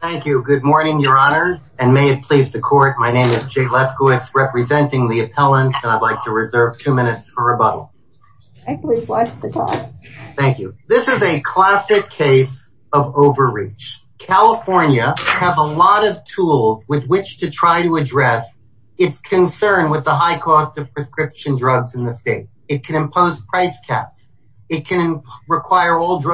thank you good morning your honor and may it please the court my name is Jay Lefkowitz representing the appellants and I'd like to reserve two minutes for rebuttal thank you this is a classic case of overreach California have a lot of tools with which to try to address its concern with the high cost of prescription drugs in the state it can impose price caps it can require all cases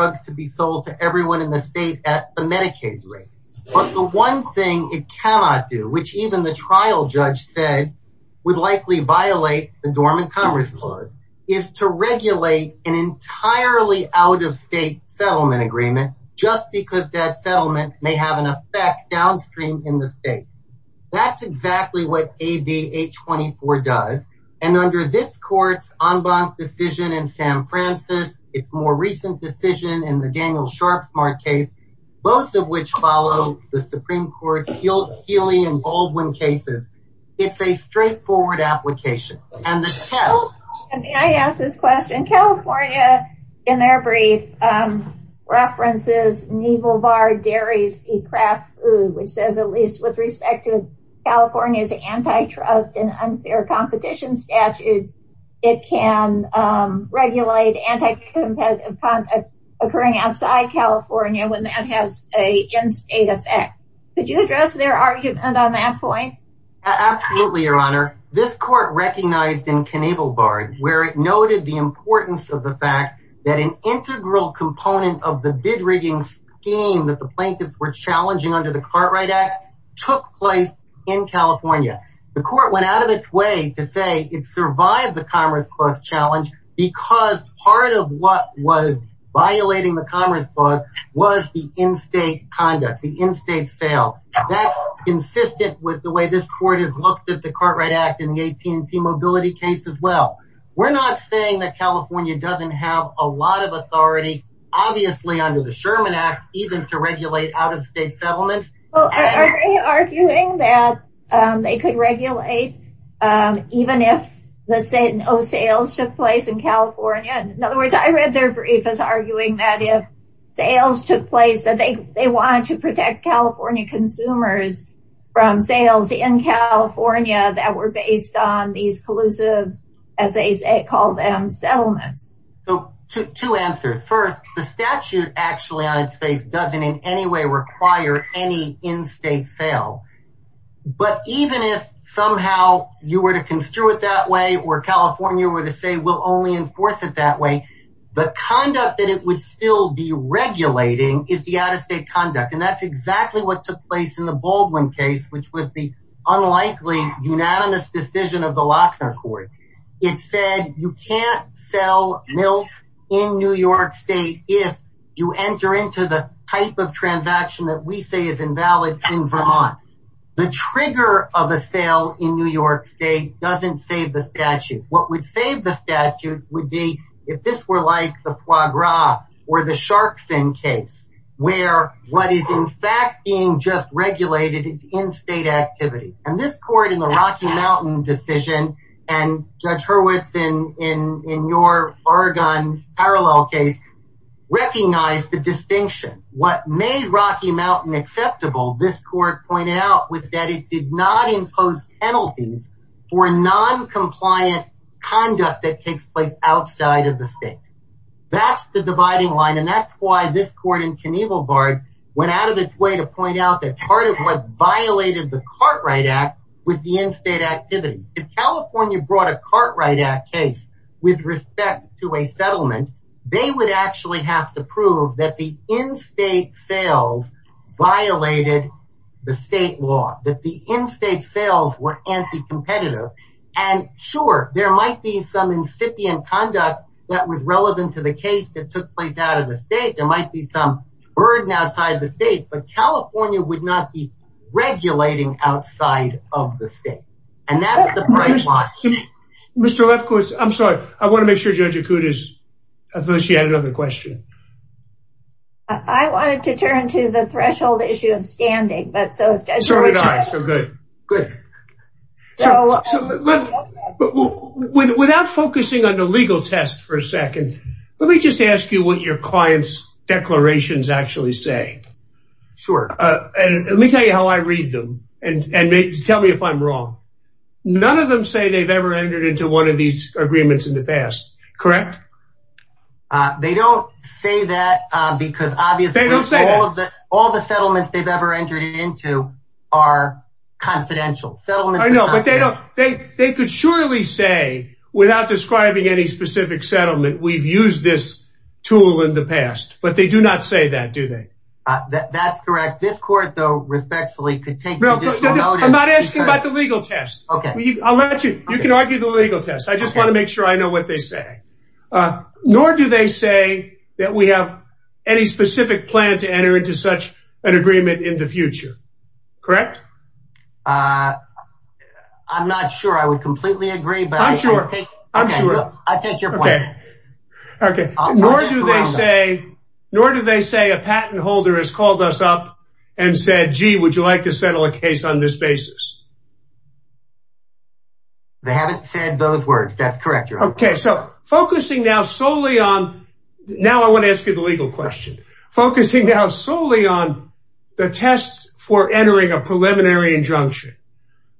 but the one thing it cannot do which even the trial judge said would likely violate the dormant Congress clause is to regulate an entirely out of state settlement agreement just because that settlement may have an effect downstream in the state that's exactly what AB 824 does and under this courts en banc decision in San Francisco it's more recent decision in the Daniel Sharpe smart case both of which follow the Supreme Court field Healy and Baldwin cases it's a straightforward application and the test and I ask this question California in their brief references naval bar dairies eat crap food which says at least with respect to California's antitrust and unfair competition statutes it can regulate and occurring outside California when that has a in-state effect could you address their argument on that point absolutely your honor this court recognized in Knievel barred where it noted the importance of the fact that an integral component of the bid-rigging scheme that the plaintiffs were challenging under the Cartwright Act took place in California the court went out of its way to say it survived the Commerce Clause challenge because part of what was violating the Commerce Clause was the in-state conduct the in-state sale that's consistent with the way this court has looked at the Cartwright Act in the AT&T mobility case as well we're not saying that California doesn't have a lot of authority obviously under the Sherman Act even to regulate out-of-state settlement arguing that they could regulate even if the Satan Oh sales took place in California in other words I read their brief is arguing that if sales took place that they they want to protect California consumers from sales in California that were based on these collusive as they say call them settlements so to answer first the statute actually on its face doesn't in any way require any in-state sale but even if somehow you were to construe it that way or California were to say we'll only enforce it that way the conduct that it would still be regulating is the out-of-state conduct and that's exactly what took place in the Baldwin case which was the unlikely unanimous decision of the Lochner court it said you can't sell milk in New York State if you enter into the type of transaction that we say is invalid in Vermont the trigger of a sale in New York State doesn't save the statute what would save the statute would be if this were like the foie gras or the shark fin case where what is in fact being just regulated is in-state activity and this court in the Rocky Mountain decision and Judge Hurwitz in in in your Oregon parallel case recognized the distinction what made Rocky Mountain acceptable this court pointed out was that it did not impose penalties for non-compliant conduct that takes place outside of the state that's the dividing line and that's why this court in Knievel Bard went out of its way to point out that part of what violated the Cartwright Act was the in-state activity if California brought a Cartwright Act case with respect to a settlement they would actually have to prove that the in-state sales violated the state law that the in-state sales were anti-competitive and sure there might be some incipient conduct that was relevant to the case that took place out of the state there might be some burden outside of the state but California would not be regulating outside of the state and that's the price line. Mr. Lefkowitz I'm sorry I want to make sure Judge Akuda's I thought she had another question. I wanted to turn to the threshold issue of standing but so without focusing on the legal test for a second let me just ask you what your clients declarations actually say. Sure. Let me tell you how I read them and tell me if I'm wrong. None of them say they've ever entered into one of these agreements in the past correct? They don't say that because obviously all the settlements they've ever entered into are confidential. I know but they don't they they could surely say without describing any specific settlement we've used this tool in the past but they do not say that do they? That's correct this court though respectfully could take no I'm not asking about the legal test okay I'll let you you can argue the legal test I just want to make sure I know what they say nor do they say that we have any specific plan to enter into such an agreement in the future correct? I'm not sure I would completely agree but I'm sure I think you're okay okay nor do they say nor do they say a patent holder has called us up and said gee would you like to settle a case on this basis? They haven't said those words that's correct. Okay so focusing now solely on now I want to ask you the preliminary injunction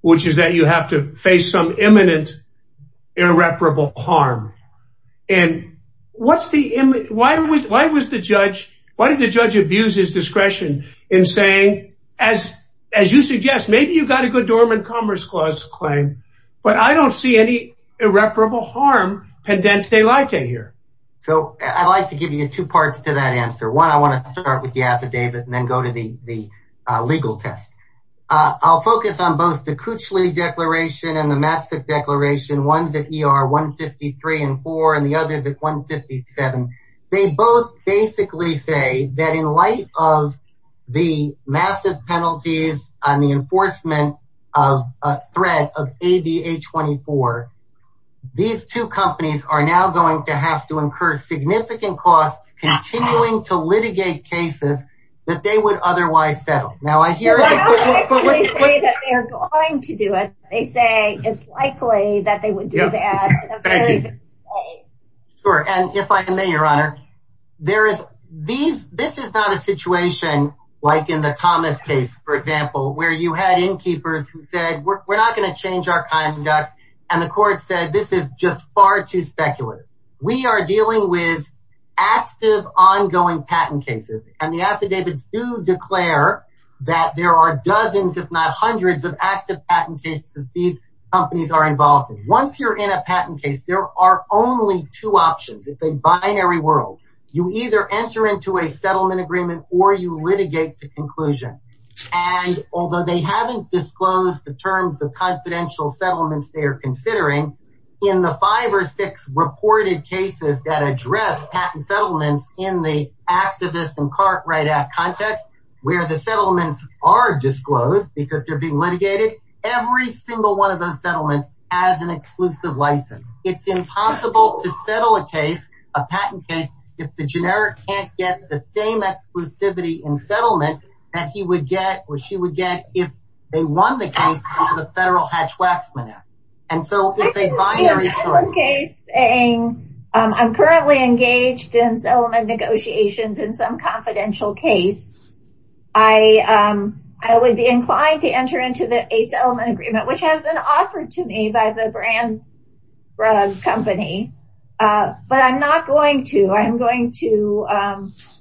which is that you have to face some imminent irreparable harm and what's the image why was why was the judge why did the judge abuse his discretion in saying as as you suggest maybe you've got a good dormant Commerce Clause claim but I don't see any irreparable harm pendent de laite here. So I'd like to give you two parts to that answer one I want to start with the affidavit and then go to the the legal test. I'll focus on both the Coochlee Declaration and the Matsik Declaration ones that ER 153 and 4 and the others at 157 they both basically say that in light of the massive penalties on the enforcement of a threat of ADA 24 these two companies are now going to have to incur significant costs continuing to litigate cases that they would otherwise settle. Now I hear that they're going to do it they say it's likely that they would do that. Sure and if I may your honor there is these this is not a situation like in the Thomas case for example where you had innkeepers who said we're not going to change our speculative. We are dealing with active ongoing patent cases and the affidavits do declare that there are dozens if not hundreds of active patent cases these companies are involved in. Once you're in a patent case there are only two options it's a binary world you either enter into a settlement agreement or you litigate to conclusion and although they haven't disclosed the terms of reported cases that address patent settlements in the activist and cart write-out context where the settlements are disclosed because they're being litigated every single one of those settlements has an exclusive license it's impossible to settle a case a patent case if the generic can't get the same exclusivity in settlement that he would get or she would get if they won the case the federal Hatch-Waxman. I'm currently engaged in settlement negotiations in some confidential case I I would be inclined to enter into the a settlement agreement which has been offered to me by the brand company but I'm not going to I'm going to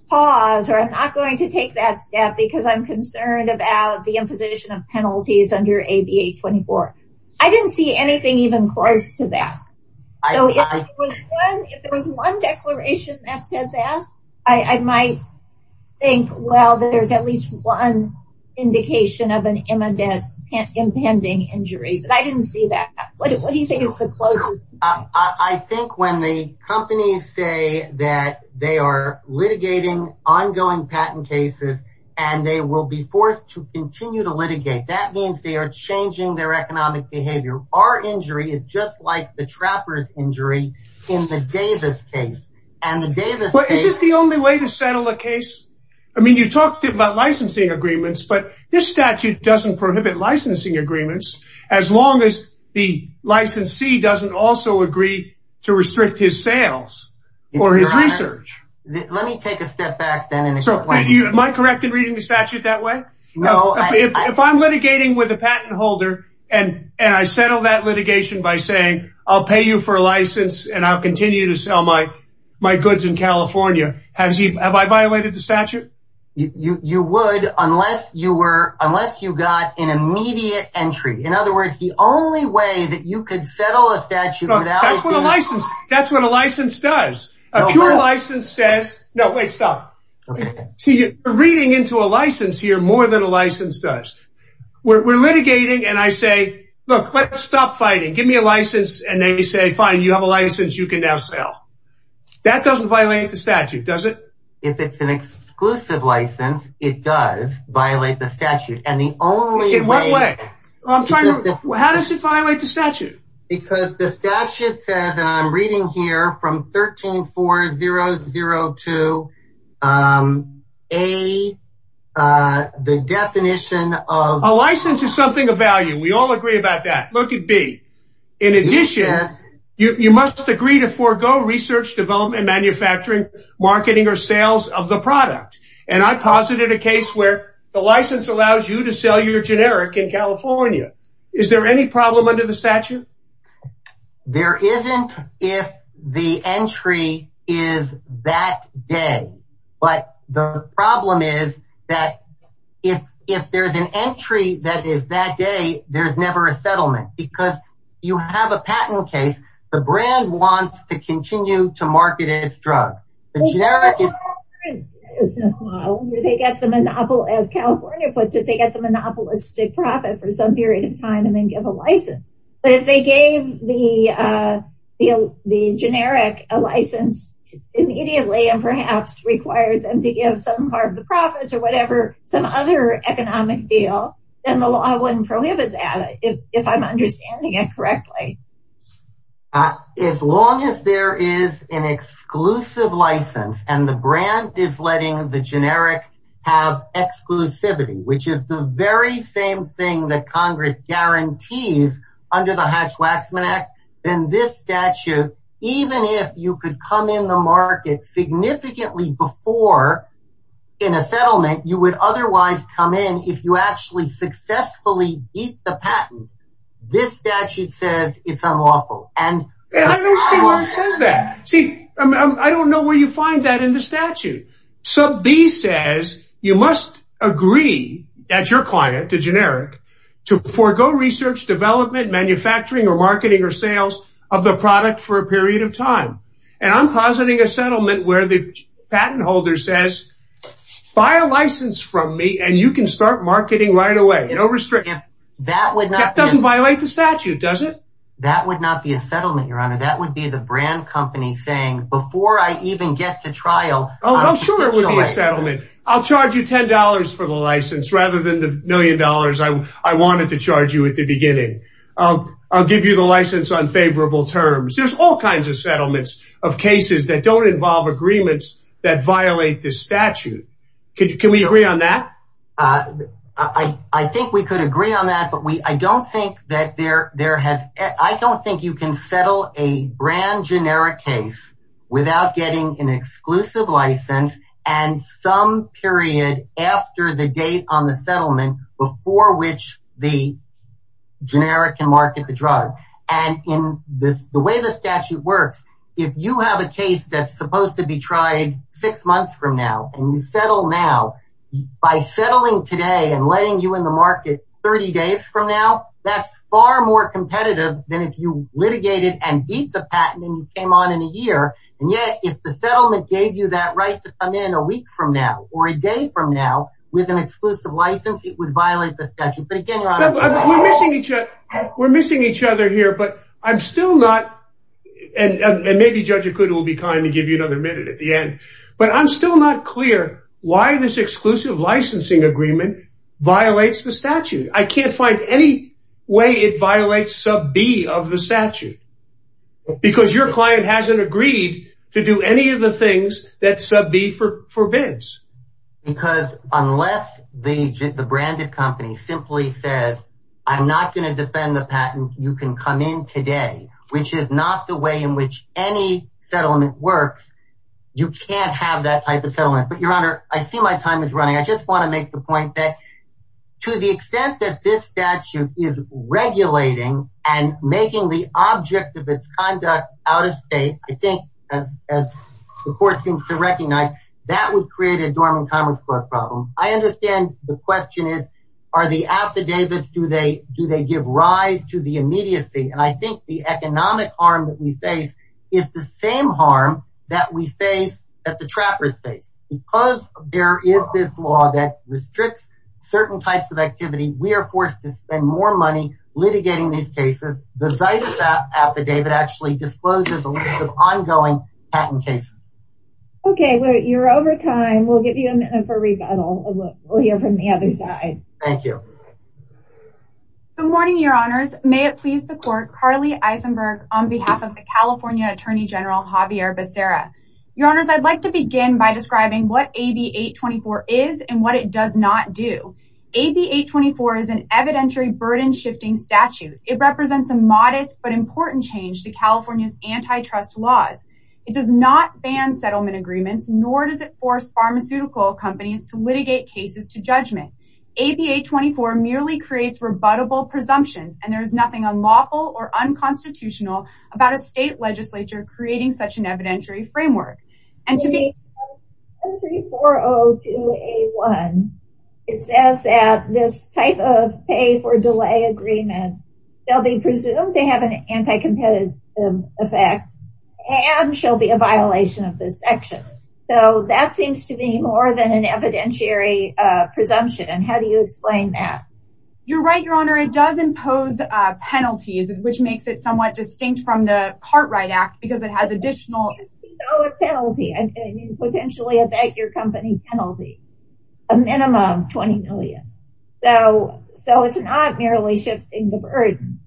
pause or I'm not going to take that step because I'm concerned about the imposition of penalties under AB 824. I didn't see anything even close to that. If there was one declaration that said that I might think well there's at least one indication of an imminent impending injury but I didn't see that. What do you think is the closest? I think when the will be forced to continue to litigate that means they are changing their economic behavior. Our injury is just like the trappers injury in the Davis case. Is this the only way to settle a case? I mean you talked about licensing agreements but this statute doesn't prohibit licensing agreements as long as the licensee doesn't also agree to restrict his sales or his research. Let that way no if I'm litigating with a patent holder and and I settle that litigation by saying I'll pay you for a license and I'll continue to sell my my goods in California. Have I violated the statute? You would unless you were unless you got an immediate entry. In other words the only way that you could settle a statute without a license. That's what a license does. A pure license here more than a license does. We're litigating and I say look let's stop fighting give me a license and they say fine you have a license you can now sell. That doesn't violate the statute does it? If it's an exclusive license it does violate the statute. How does it violate the statute? Because the definition of a license is something of value we all agree about that look at B. In addition you must agree to forego research development manufacturing marketing or sales of the product and I posited a case where the license allows you to sell your generic in California. Is there any problem under the statute? There isn't if the entry is that day but the problem is that if if there's an entry that is that day there's never a settlement because you have a patent case the brand wants to continue to market its drug. They get the monopolistic profit for some period of time and then give a the generic a license immediately and perhaps require them to give some part of the profits or whatever some other economic deal then the law wouldn't prohibit that if I'm understanding it correctly. As long as there is an exclusive license and the brand is letting the generic have exclusivity which is the very same thing that Congress guarantees under the Waxman Act then this statute even if you could come in the market significantly before in a settlement you would otherwise come in if you actually successfully beat the patent this statute says it's unlawful and see I don't know where you find that in the statute. Sub B says you must agree that your client to generic to forego research development manufacturing or marketing or sales of the product for a period of time and I'm positing a settlement where the patent holder says buy a license from me and you can start marketing right away no restriction that would not doesn't violate the statute does it? That would not be a settlement your honor that would be the brand company saying before I even get to trial. I'll charge you ten dollars for the license rather than the million dollars I wanted to charge you at the beginning. I'll give you the license on favorable terms. There's all kinds of settlements of cases that don't involve agreements that violate the statute. Can we agree on that? I think we could agree on that but we I don't think that there there has I don't think you can settle a brand generic case without getting an exclusive license and some period after the date on the settlement before which the generic can market the drug and in this the way the statute works if you have a case that's supposed to be tried six months from now and you settle now by settling today and letting you in the market 30 days from now that's far more competitive than if you litigated and beat the patent and you on in a year and yet if the settlement gave you that right to come in a week from now or a day from now with an exclusive license it would violate the statute. We're missing each other here but I'm still not and maybe Judge Okuda will be kind to give you another minute at the end but I'm still not clear why this exclusive licensing agreement violates the statute. I can't agreed to do any of the things that sub B forbids. Because unless the branded company simply says I'm not going to defend the patent you can come in today which is not the way in which any settlement works you can't have that type of settlement but your honor I see my time is running I just want to make the point that to the extent that this statute is regulating and making the object of its conduct out of state I think as the court seems to recognize that would create a dormant commerce clause problem. I understand the question is are the affidavits do they do they give rise to the immediacy and I think the economic harm that we face is the same harm that we face that the trappers face. Because there is this law that restricts certain types of activity we are forced to spend more money litigating these cases. The Zytus affidavit actually discloses a list of ongoing patent cases. Okay you're over time we'll give you a minute for rebuttal. We'll hear from the other side. Thank you. Good morning your honors may it please the court Carly Eisenberg on behalf of the California Attorney General Javier Becerra. Your honors I'd like to begin by describing what AB 824 is and what it does not do. AB 824 is an evidentiary burden shifting statute. It represents a modest but important change to California's antitrust laws. It does not ban settlement agreements nor does it force pharmaceutical companies to litigate cases to judgment. AB 824 merely creates rebuttable presumptions and there is nothing unlawful or unconstitutional about a state legislature creating such an agreement. They'll be presumed to have an anti-competitive effect and shall be a violation of this section. So that seems to be more than an evidentiary presumption and how do you explain that? You're right your honor it does impose penalties which makes it somewhat distinct from the Cartwright Act because it has additional. So it's not merely shifting the burden.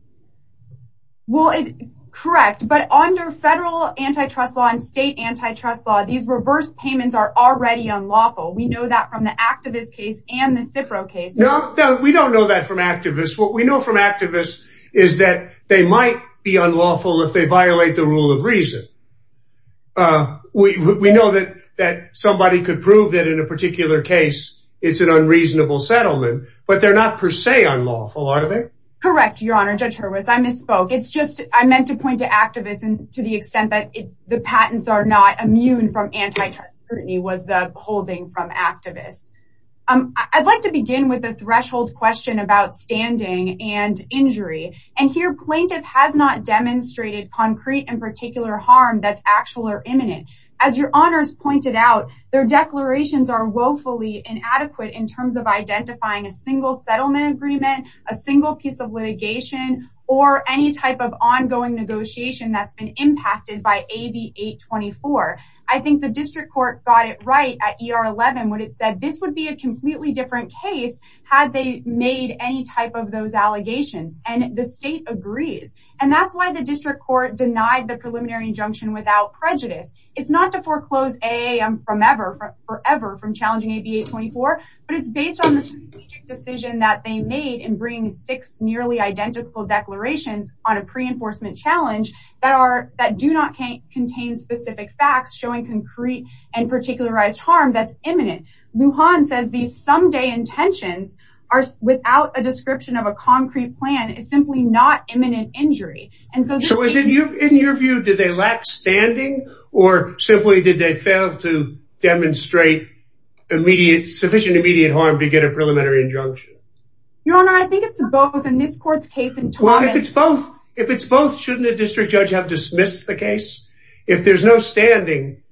Well it correct but under federal antitrust law and state antitrust law these reverse payments are already unlawful. We know that from the activist case and the Cipro case. No we don't know that from activists. What we know from activists is that they might be unlawful if they violate the rule of reason. We know that that somebody could prove that in a particular case it's an unreasonable settlement but they're not per se unlawful are they? Correct your honor Judge Hurwitz I misspoke. It's just I meant to point to activists and to the extent that the patents are not immune from antitrust scrutiny was the holding from activists. I'd like to begin with a demonstrated concrete and particular harm that's actual or imminent. As your honors pointed out their declarations are woefully inadequate in terms of identifying a single settlement agreement, a single piece of litigation, or any type of ongoing negotiation that's been impacted by AB 824. I think the district court got it right at ER 11 when it said this would be a completely different case had they made any type of those allegations and the that's why the district court denied the preliminary injunction without prejudice. It's not to foreclose AAM from ever forever from challenging AB 824 but it's based on the decision that they made in bringing six nearly identical declarations on a pre-enforcement challenge that are that do not can't contain specific facts showing concrete and particularized harm that's imminent. Lujan says these someday intentions are without a description of a concrete plan is simply not imminent injury and so is it you in your view did they lack standing or simply did they fail to demonstrate immediate sufficient immediate harm to get a preliminary injunction? Your honor I think it's both in this court's case and well if it's both if it's both shouldn't a district judge have dismissed the case if there's no standing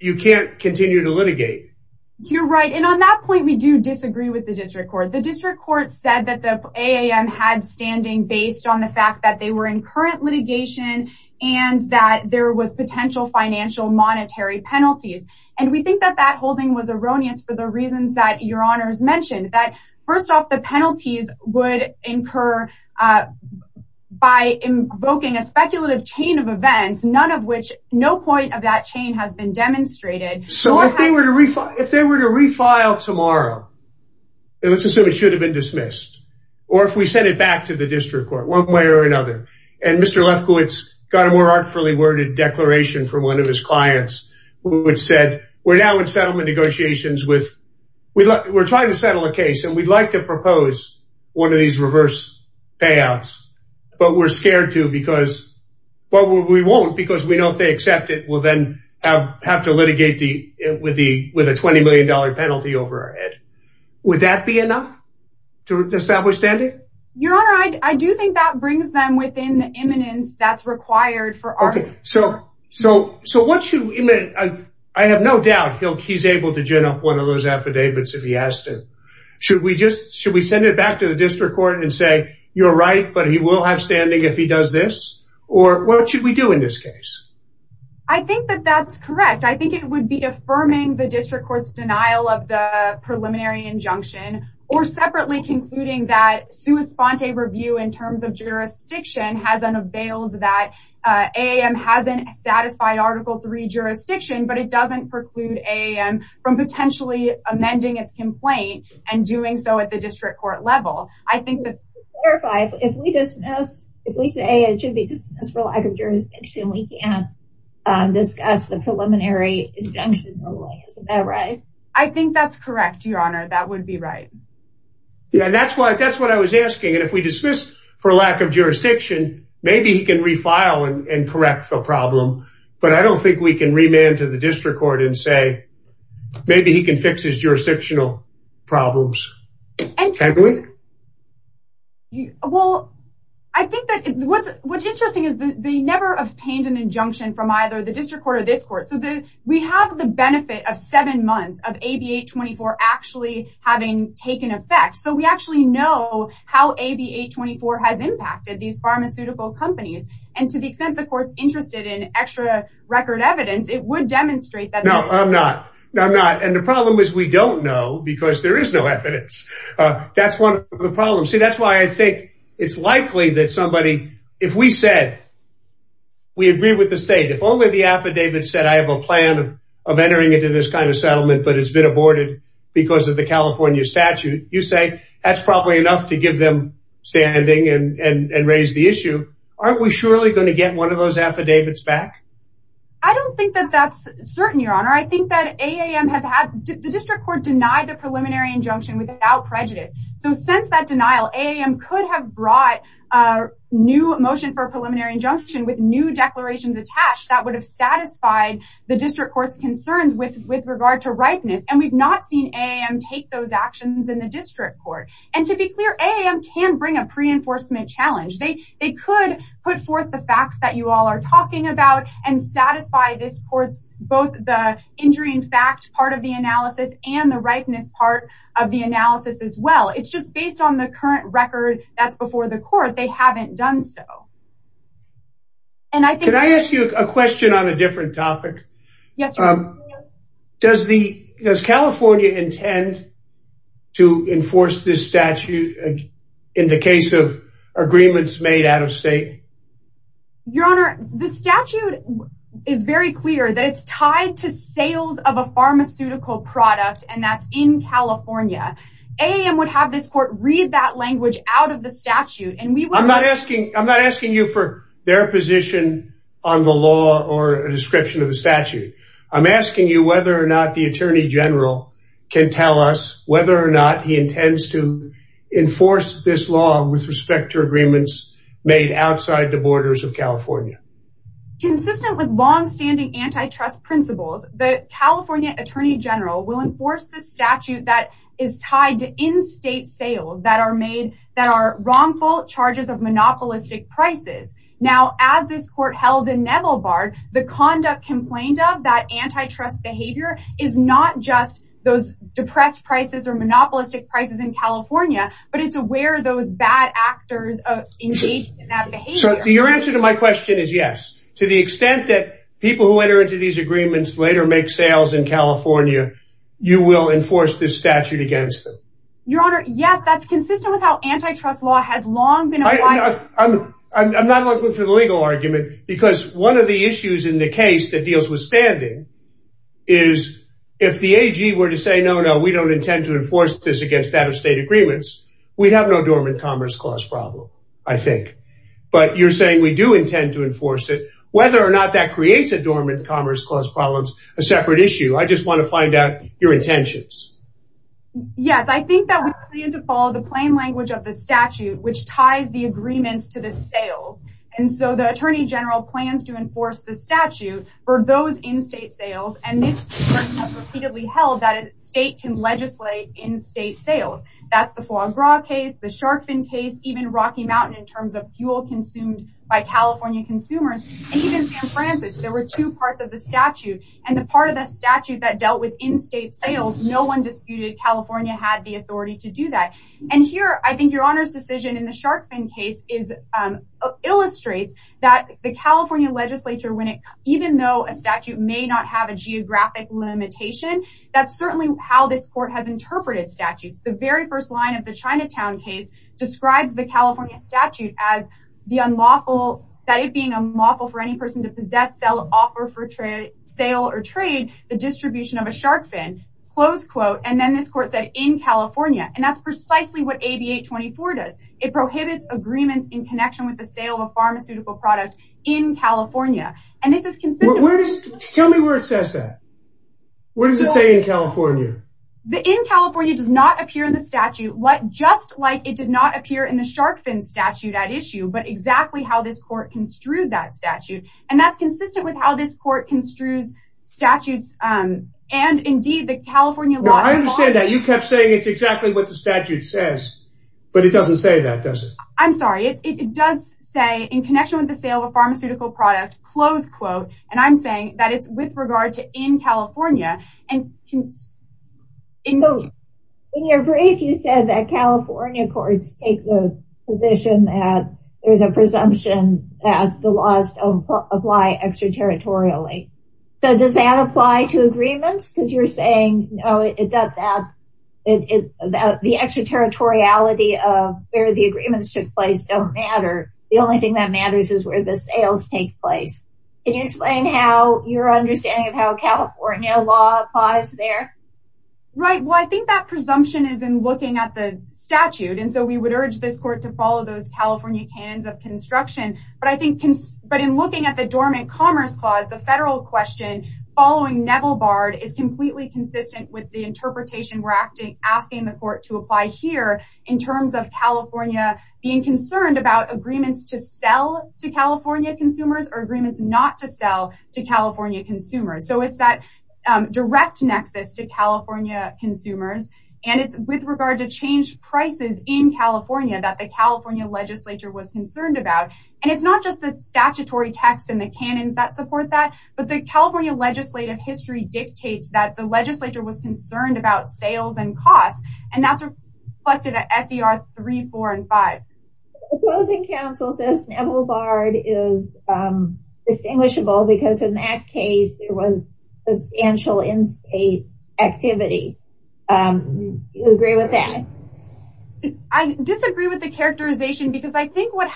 you can't continue to litigate. You're right and on that point we do disagree with the district court the district court said that the AAM had standing based on the fact that they were in current litigation and that there was potential financial monetary penalties and we think that that holding was erroneous for the reasons that your honors mentioned that first off the penalties would incur by invoking a speculative chain of events none of which no point of that chain has been should have been dismissed or if we send it back to the district court one way or another and Mr. Lefkowitz got a more artfully worded declaration from one of his clients which said we're now in settlement negotiations with we look we're trying to settle a case and we'd like to propose one of these reverse payouts but we're scared to because well we won't because we know if they accept it we'll then have have to litigate the with the with a 20 million dollar to establish standing your honor I do think that brings them within the imminence that's required for okay so so so what should I have no doubt he'll he's able to gin up one of those affidavits if he has to should we just should we send it back to the district court and say you're right but he will have standing if he does this or what should we do in this case I think that that's correct I think it would be affirming the district courts denial of the preliminary injunction or separately concluding that sua sponte review in terms of jurisdiction has unveiled that a.m. hasn't satisfied article 3 jurisdiction but it doesn't preclude a.m. from potentially amending its complaint and doing so at the district court level I think that if we dismiss if we say it should be dismissed for lack of jurisdiction we can discuss the preliminary injunction right I think that's correct your honor that would be right yeah that's why that's what I was asking and if we dismiss for lack of jurisdiction maybe he can refile and correct the problem but I don't think we can remand to the district court and say maybe he can fix his jurisdictional problems and can't believe you well I think that what's what's interesting is that they never obtained an injunction from either the court so that we have the benefit of seven months of a b8-24 actually having taken effect so we actually know how a b8-24 has impacted these pharmaceutical companies and to the extent the courts interested in extra record evidence it would demonstrate that no I'm not I'm not and the problem is we don't know because there is no evidence that's one of the problems see that's why I think it's likely that somebody if we said we agree with the state if only the I have a plan of entering into this kind of settlement but it's been aborted because of the California statute you say that's probably enough to give them standing and raise the issue aren't we surely going to get one of those affidavits back I don't think that that's certain your honor I think that a.m. has had the district court denied the preliminary injunction without prejudice so since that denial a.m. could have brought a new motion for a preliminary injunction with new declarations attached that would have the district courts concerns with with regard to ripeness and we've not seen a and take those actions in the district court and to be clear a.m. can bring a pre-enforcement challenge they they could put forth the facts that you all are talking about and satisfy this courts both the injury in fact part of the analysis and the ripeness part of the analysis as well it's just based on the current record that's before the court they haven't done so and I can I ask you a question on a different topic yes um does the does California intend to enforce this statute in the case of agreements made out of state your honor the statute is very clear that it's tied to sales of a pharmaceutical product and that's in California a.m. would have this court read that language out of the the law or a description of the statute I'm asking you whether or not the Attorney General can tell us whether or not he intends to enforce this law with respect to agreements made outside the borders of California consistent with long-standing antitrust principles the California Attorney General will enforce the statute that is tied to in-state sales that are made that are wrongful of monopolistic prices now as this court held in Neville Bard the conduct complained of that antitrust behavior is not just those depressed prices or monopolistic prices in California but it's aware those bad actors of your answer to my question is yes to the extent that people who enter into these agreements later make sales in California you will enforce this statute against them your honor yes that's consistent with how antitrust law has long been I'm not looking for the legal argument because one of the issues in the case that deals with standing is if the AG were to say no no we don't intend to enforce this against out-of-state agreements we'd have no dormant commerce clause problem I think but you're saying we do intend to enforce it whether or not that creates a dormant commerce clause problems a separate issue I just want to find out your intentions yes I think that we need to follow the plain language of the statute which ties the agreements to the sales and so the Attorney General plans to enforce the statute for those in-state sales and repeatedly held that a state can legislate in-state sales that's the foie gras case the shark fin case even Rocky Mountain in terms of fuel consumed by California consumers there were two parts of the statute and the part of the statute that dealt with in-state sales no one disputed California had the I think your honors decision in the shark fin case is illustrates that the California legislature when it even though a statute may not have a geographic limitation that's certainly how this court has interpreted statutes the very first line of the Chinatown case describes the California statute as the unlawful that it being a moth for any person to possess sell offer for trade sale or trade the distribution of a shark fin close quote and then this it prohibits agreements in connection with the sale of pharmaceutical product in California and this is consistent where does tell me where it says that what does it say in California the in California does not appear in the statute what just like it did not appear in the shark fin statute at issue but exactly how this court construed that statute and that's consistent with how this court construes statutes and indeed the California law I understand that you kept saying it's exactly what the statute says but it doesn't say that does it I'm sorry it does say in connection with the sale of pharmaceutical product close quote and I'm saying that it's with regard to in California and in your brief you said that California courts take the position that there's a presumption that the laws apply extraterritorially so does that apply to agreements because you're saying no it does that it is that the extraterritoriality of where the agreements took place don't matter the only thing that matters is where the sales take place can you explain how your understanding of how California law applies there right well I think that presumption is in looking at the statute and so we would urge this court to follow those California cannons of construction but I think can but in commerce clause the federal question following Neville Bard is completely consistent with the interpretation we're acting asking the court to apply here in terms of California being concerned about agreements to sell to California consumers or agreements not to sell to California consumers so it's that direct nexus to California consumers and it's with regard to change prices in California that the California legislature was concerned about and it's just the statutory text and the cannons that support that but the California legislative history dictates that the legislature was concerned about sales and costs and that's reflected at SER 3, 4, and 5. Opposing counsel says Neville Bard is distinguishable because in that case there was substantial in-state activity you agree with that? I disagree with the characterization because I think what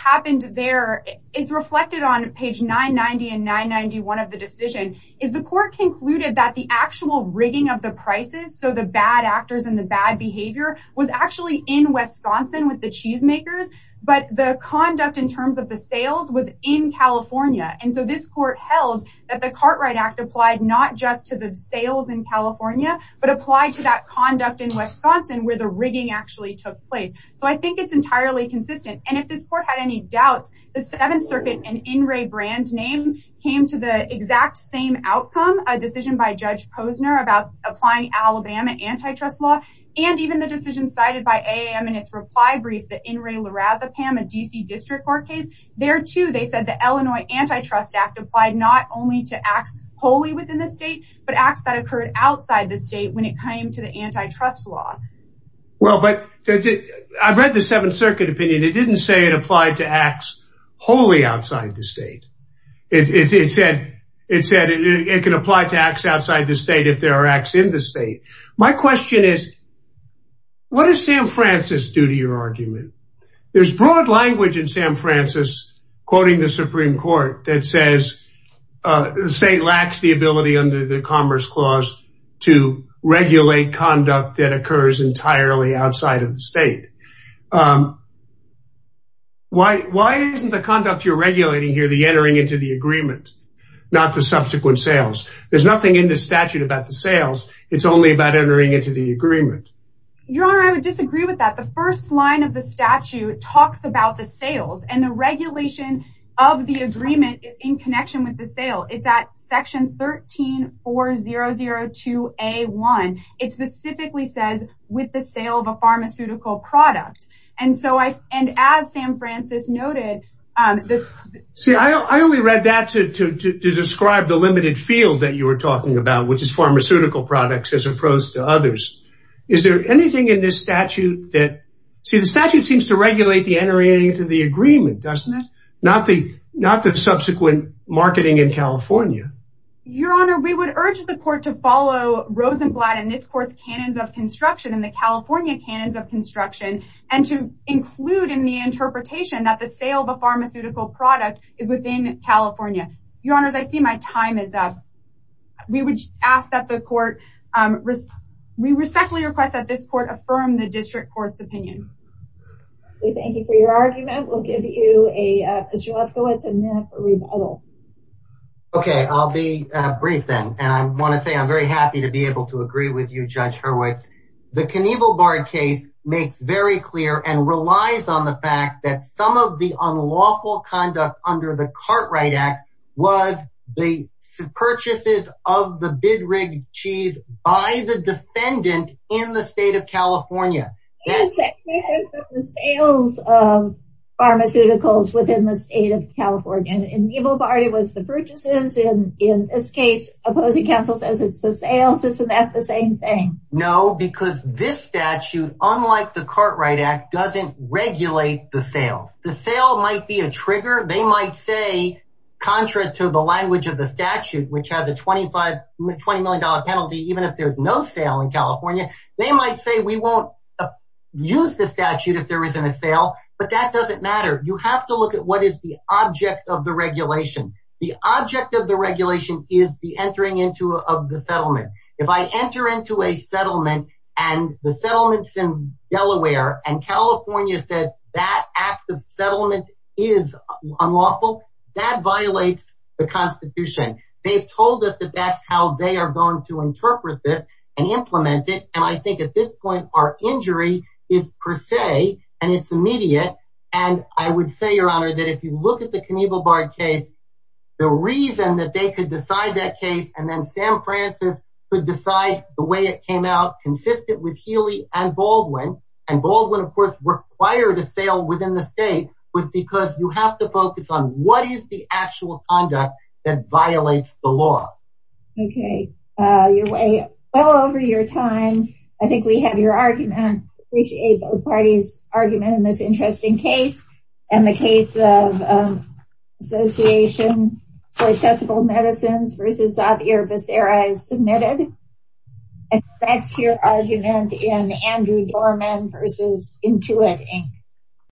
it's reflected on page 990 and 991 of the decision is the court concluded that the actual rigging of the prices so the bad actors and the bad behavior was actually in Wisconsin with the cheesemakers but the conduct in terms of the sales was in California and so this court held that the Cartwright Act applied not just to the sales in California but applied to that conduct in Wisconsin where the rigging actually took place so I think it's entirely consistent and if this court had any doubts the Seventh Circuit and In re brand name came to the exact same outcome a decision by Judge Posner about applying Alabama antitrust law and even the decision cited by AAM in its reply brief that In re La Raza Pam a DC District Court case there too they said the Illinois Antitrust Act applied not only to acts wholly within the state but acts that occurred outside the state when it came to the antitrust law. Well I've read the Seventh Circuit opinion it didn't say it applied to acts wholly outside the state it said it said it can apply to acts outside the state if there are acts in the state. My question is what does Sam Francis do to your argument? There's broad language in Sam Francis quoting the Supreme Court that says the state lacks the ability under the Commerce Clause to regulate conduct that occurs entirely outside of the state. Why isn't the conduct you're regulating here the entering into the agreement not the subsequent sales? There's nothing in the statute about the sales it's only about entering into the agreement. Your honor I would disagree with that the first line of the statute talks about the sales and the regulation of the agreement is in connection with the sale it's at section 134002A1 it specifically says with the sale of a pharmaceutical product and so I and as Sam Francis noted this see I only read that to describe the limited field that you were talking about which is pharmaceutical products as opposed to others. Is there anything in this statute that see the statute seems to regulate the entering into the agreement doesn't it? Not the not the subsequent marketing in California. Your honor we would urge the court to follow Rosenblatt and this court's canons of construction in the California canons of construction and to include in the interpretation that the sale of a pharmaceutical product is within California. Your honors I see my time is up. We would ask that the court risk we respectfully request that this court affirm the district courts opinion. We thank you for your argument we'll give you a Mr. Lefkowitz a minute for rebuttal. Okay I'll be brief then and I want to say I'm very happy to be able to agree with you Judge Hurwitz. The Knievel-Bard case makes very clear and relies on the fact that some of the unlawful conduct under the Cartwright Act was the purchases of the bid rig cheese by the defendant in the state of California. The sales of pharmaceuticals within the state of California. In Knievel-Bard it was the purchases and in this case opposing counsel says it's the sales isn't that the same thing? No because this statute unlike the Cartwright Act doesn't regulate the sales. The sale might be a trigger they might say contra to the language of the statute which has a twenty five twenty million dollar penalty even if there's no sale in California. They might say we won't use the statute if there isn't a sale but that doesn't matter. You have to look at what is the object of the regulation. The object of the regulation is the entering into of the settlement. If I enter into a settlement and the settlements in Delaware and California says that act of the Constitution. They've told us that that's how they are going to interpret this and implement it and I think at this point our injury is per se and it's immediate and I would say your honor that if you look at the Knievel-Bard case the reason that they could decide that case and then Sam Francis could decide the way it came out consistent with Healy and Baldwin and Baldwin of course required a sale within the state was because you have to focus on what is the actual conduct that violates the law. Okay, well over your time I think we have your argument. We appreciate both parties argument in this interesting case and the case of Association for Accessible Medicines versus Xavier Becerra is submitted and that's your argument in Andrew Dorman versus Intuit Inc.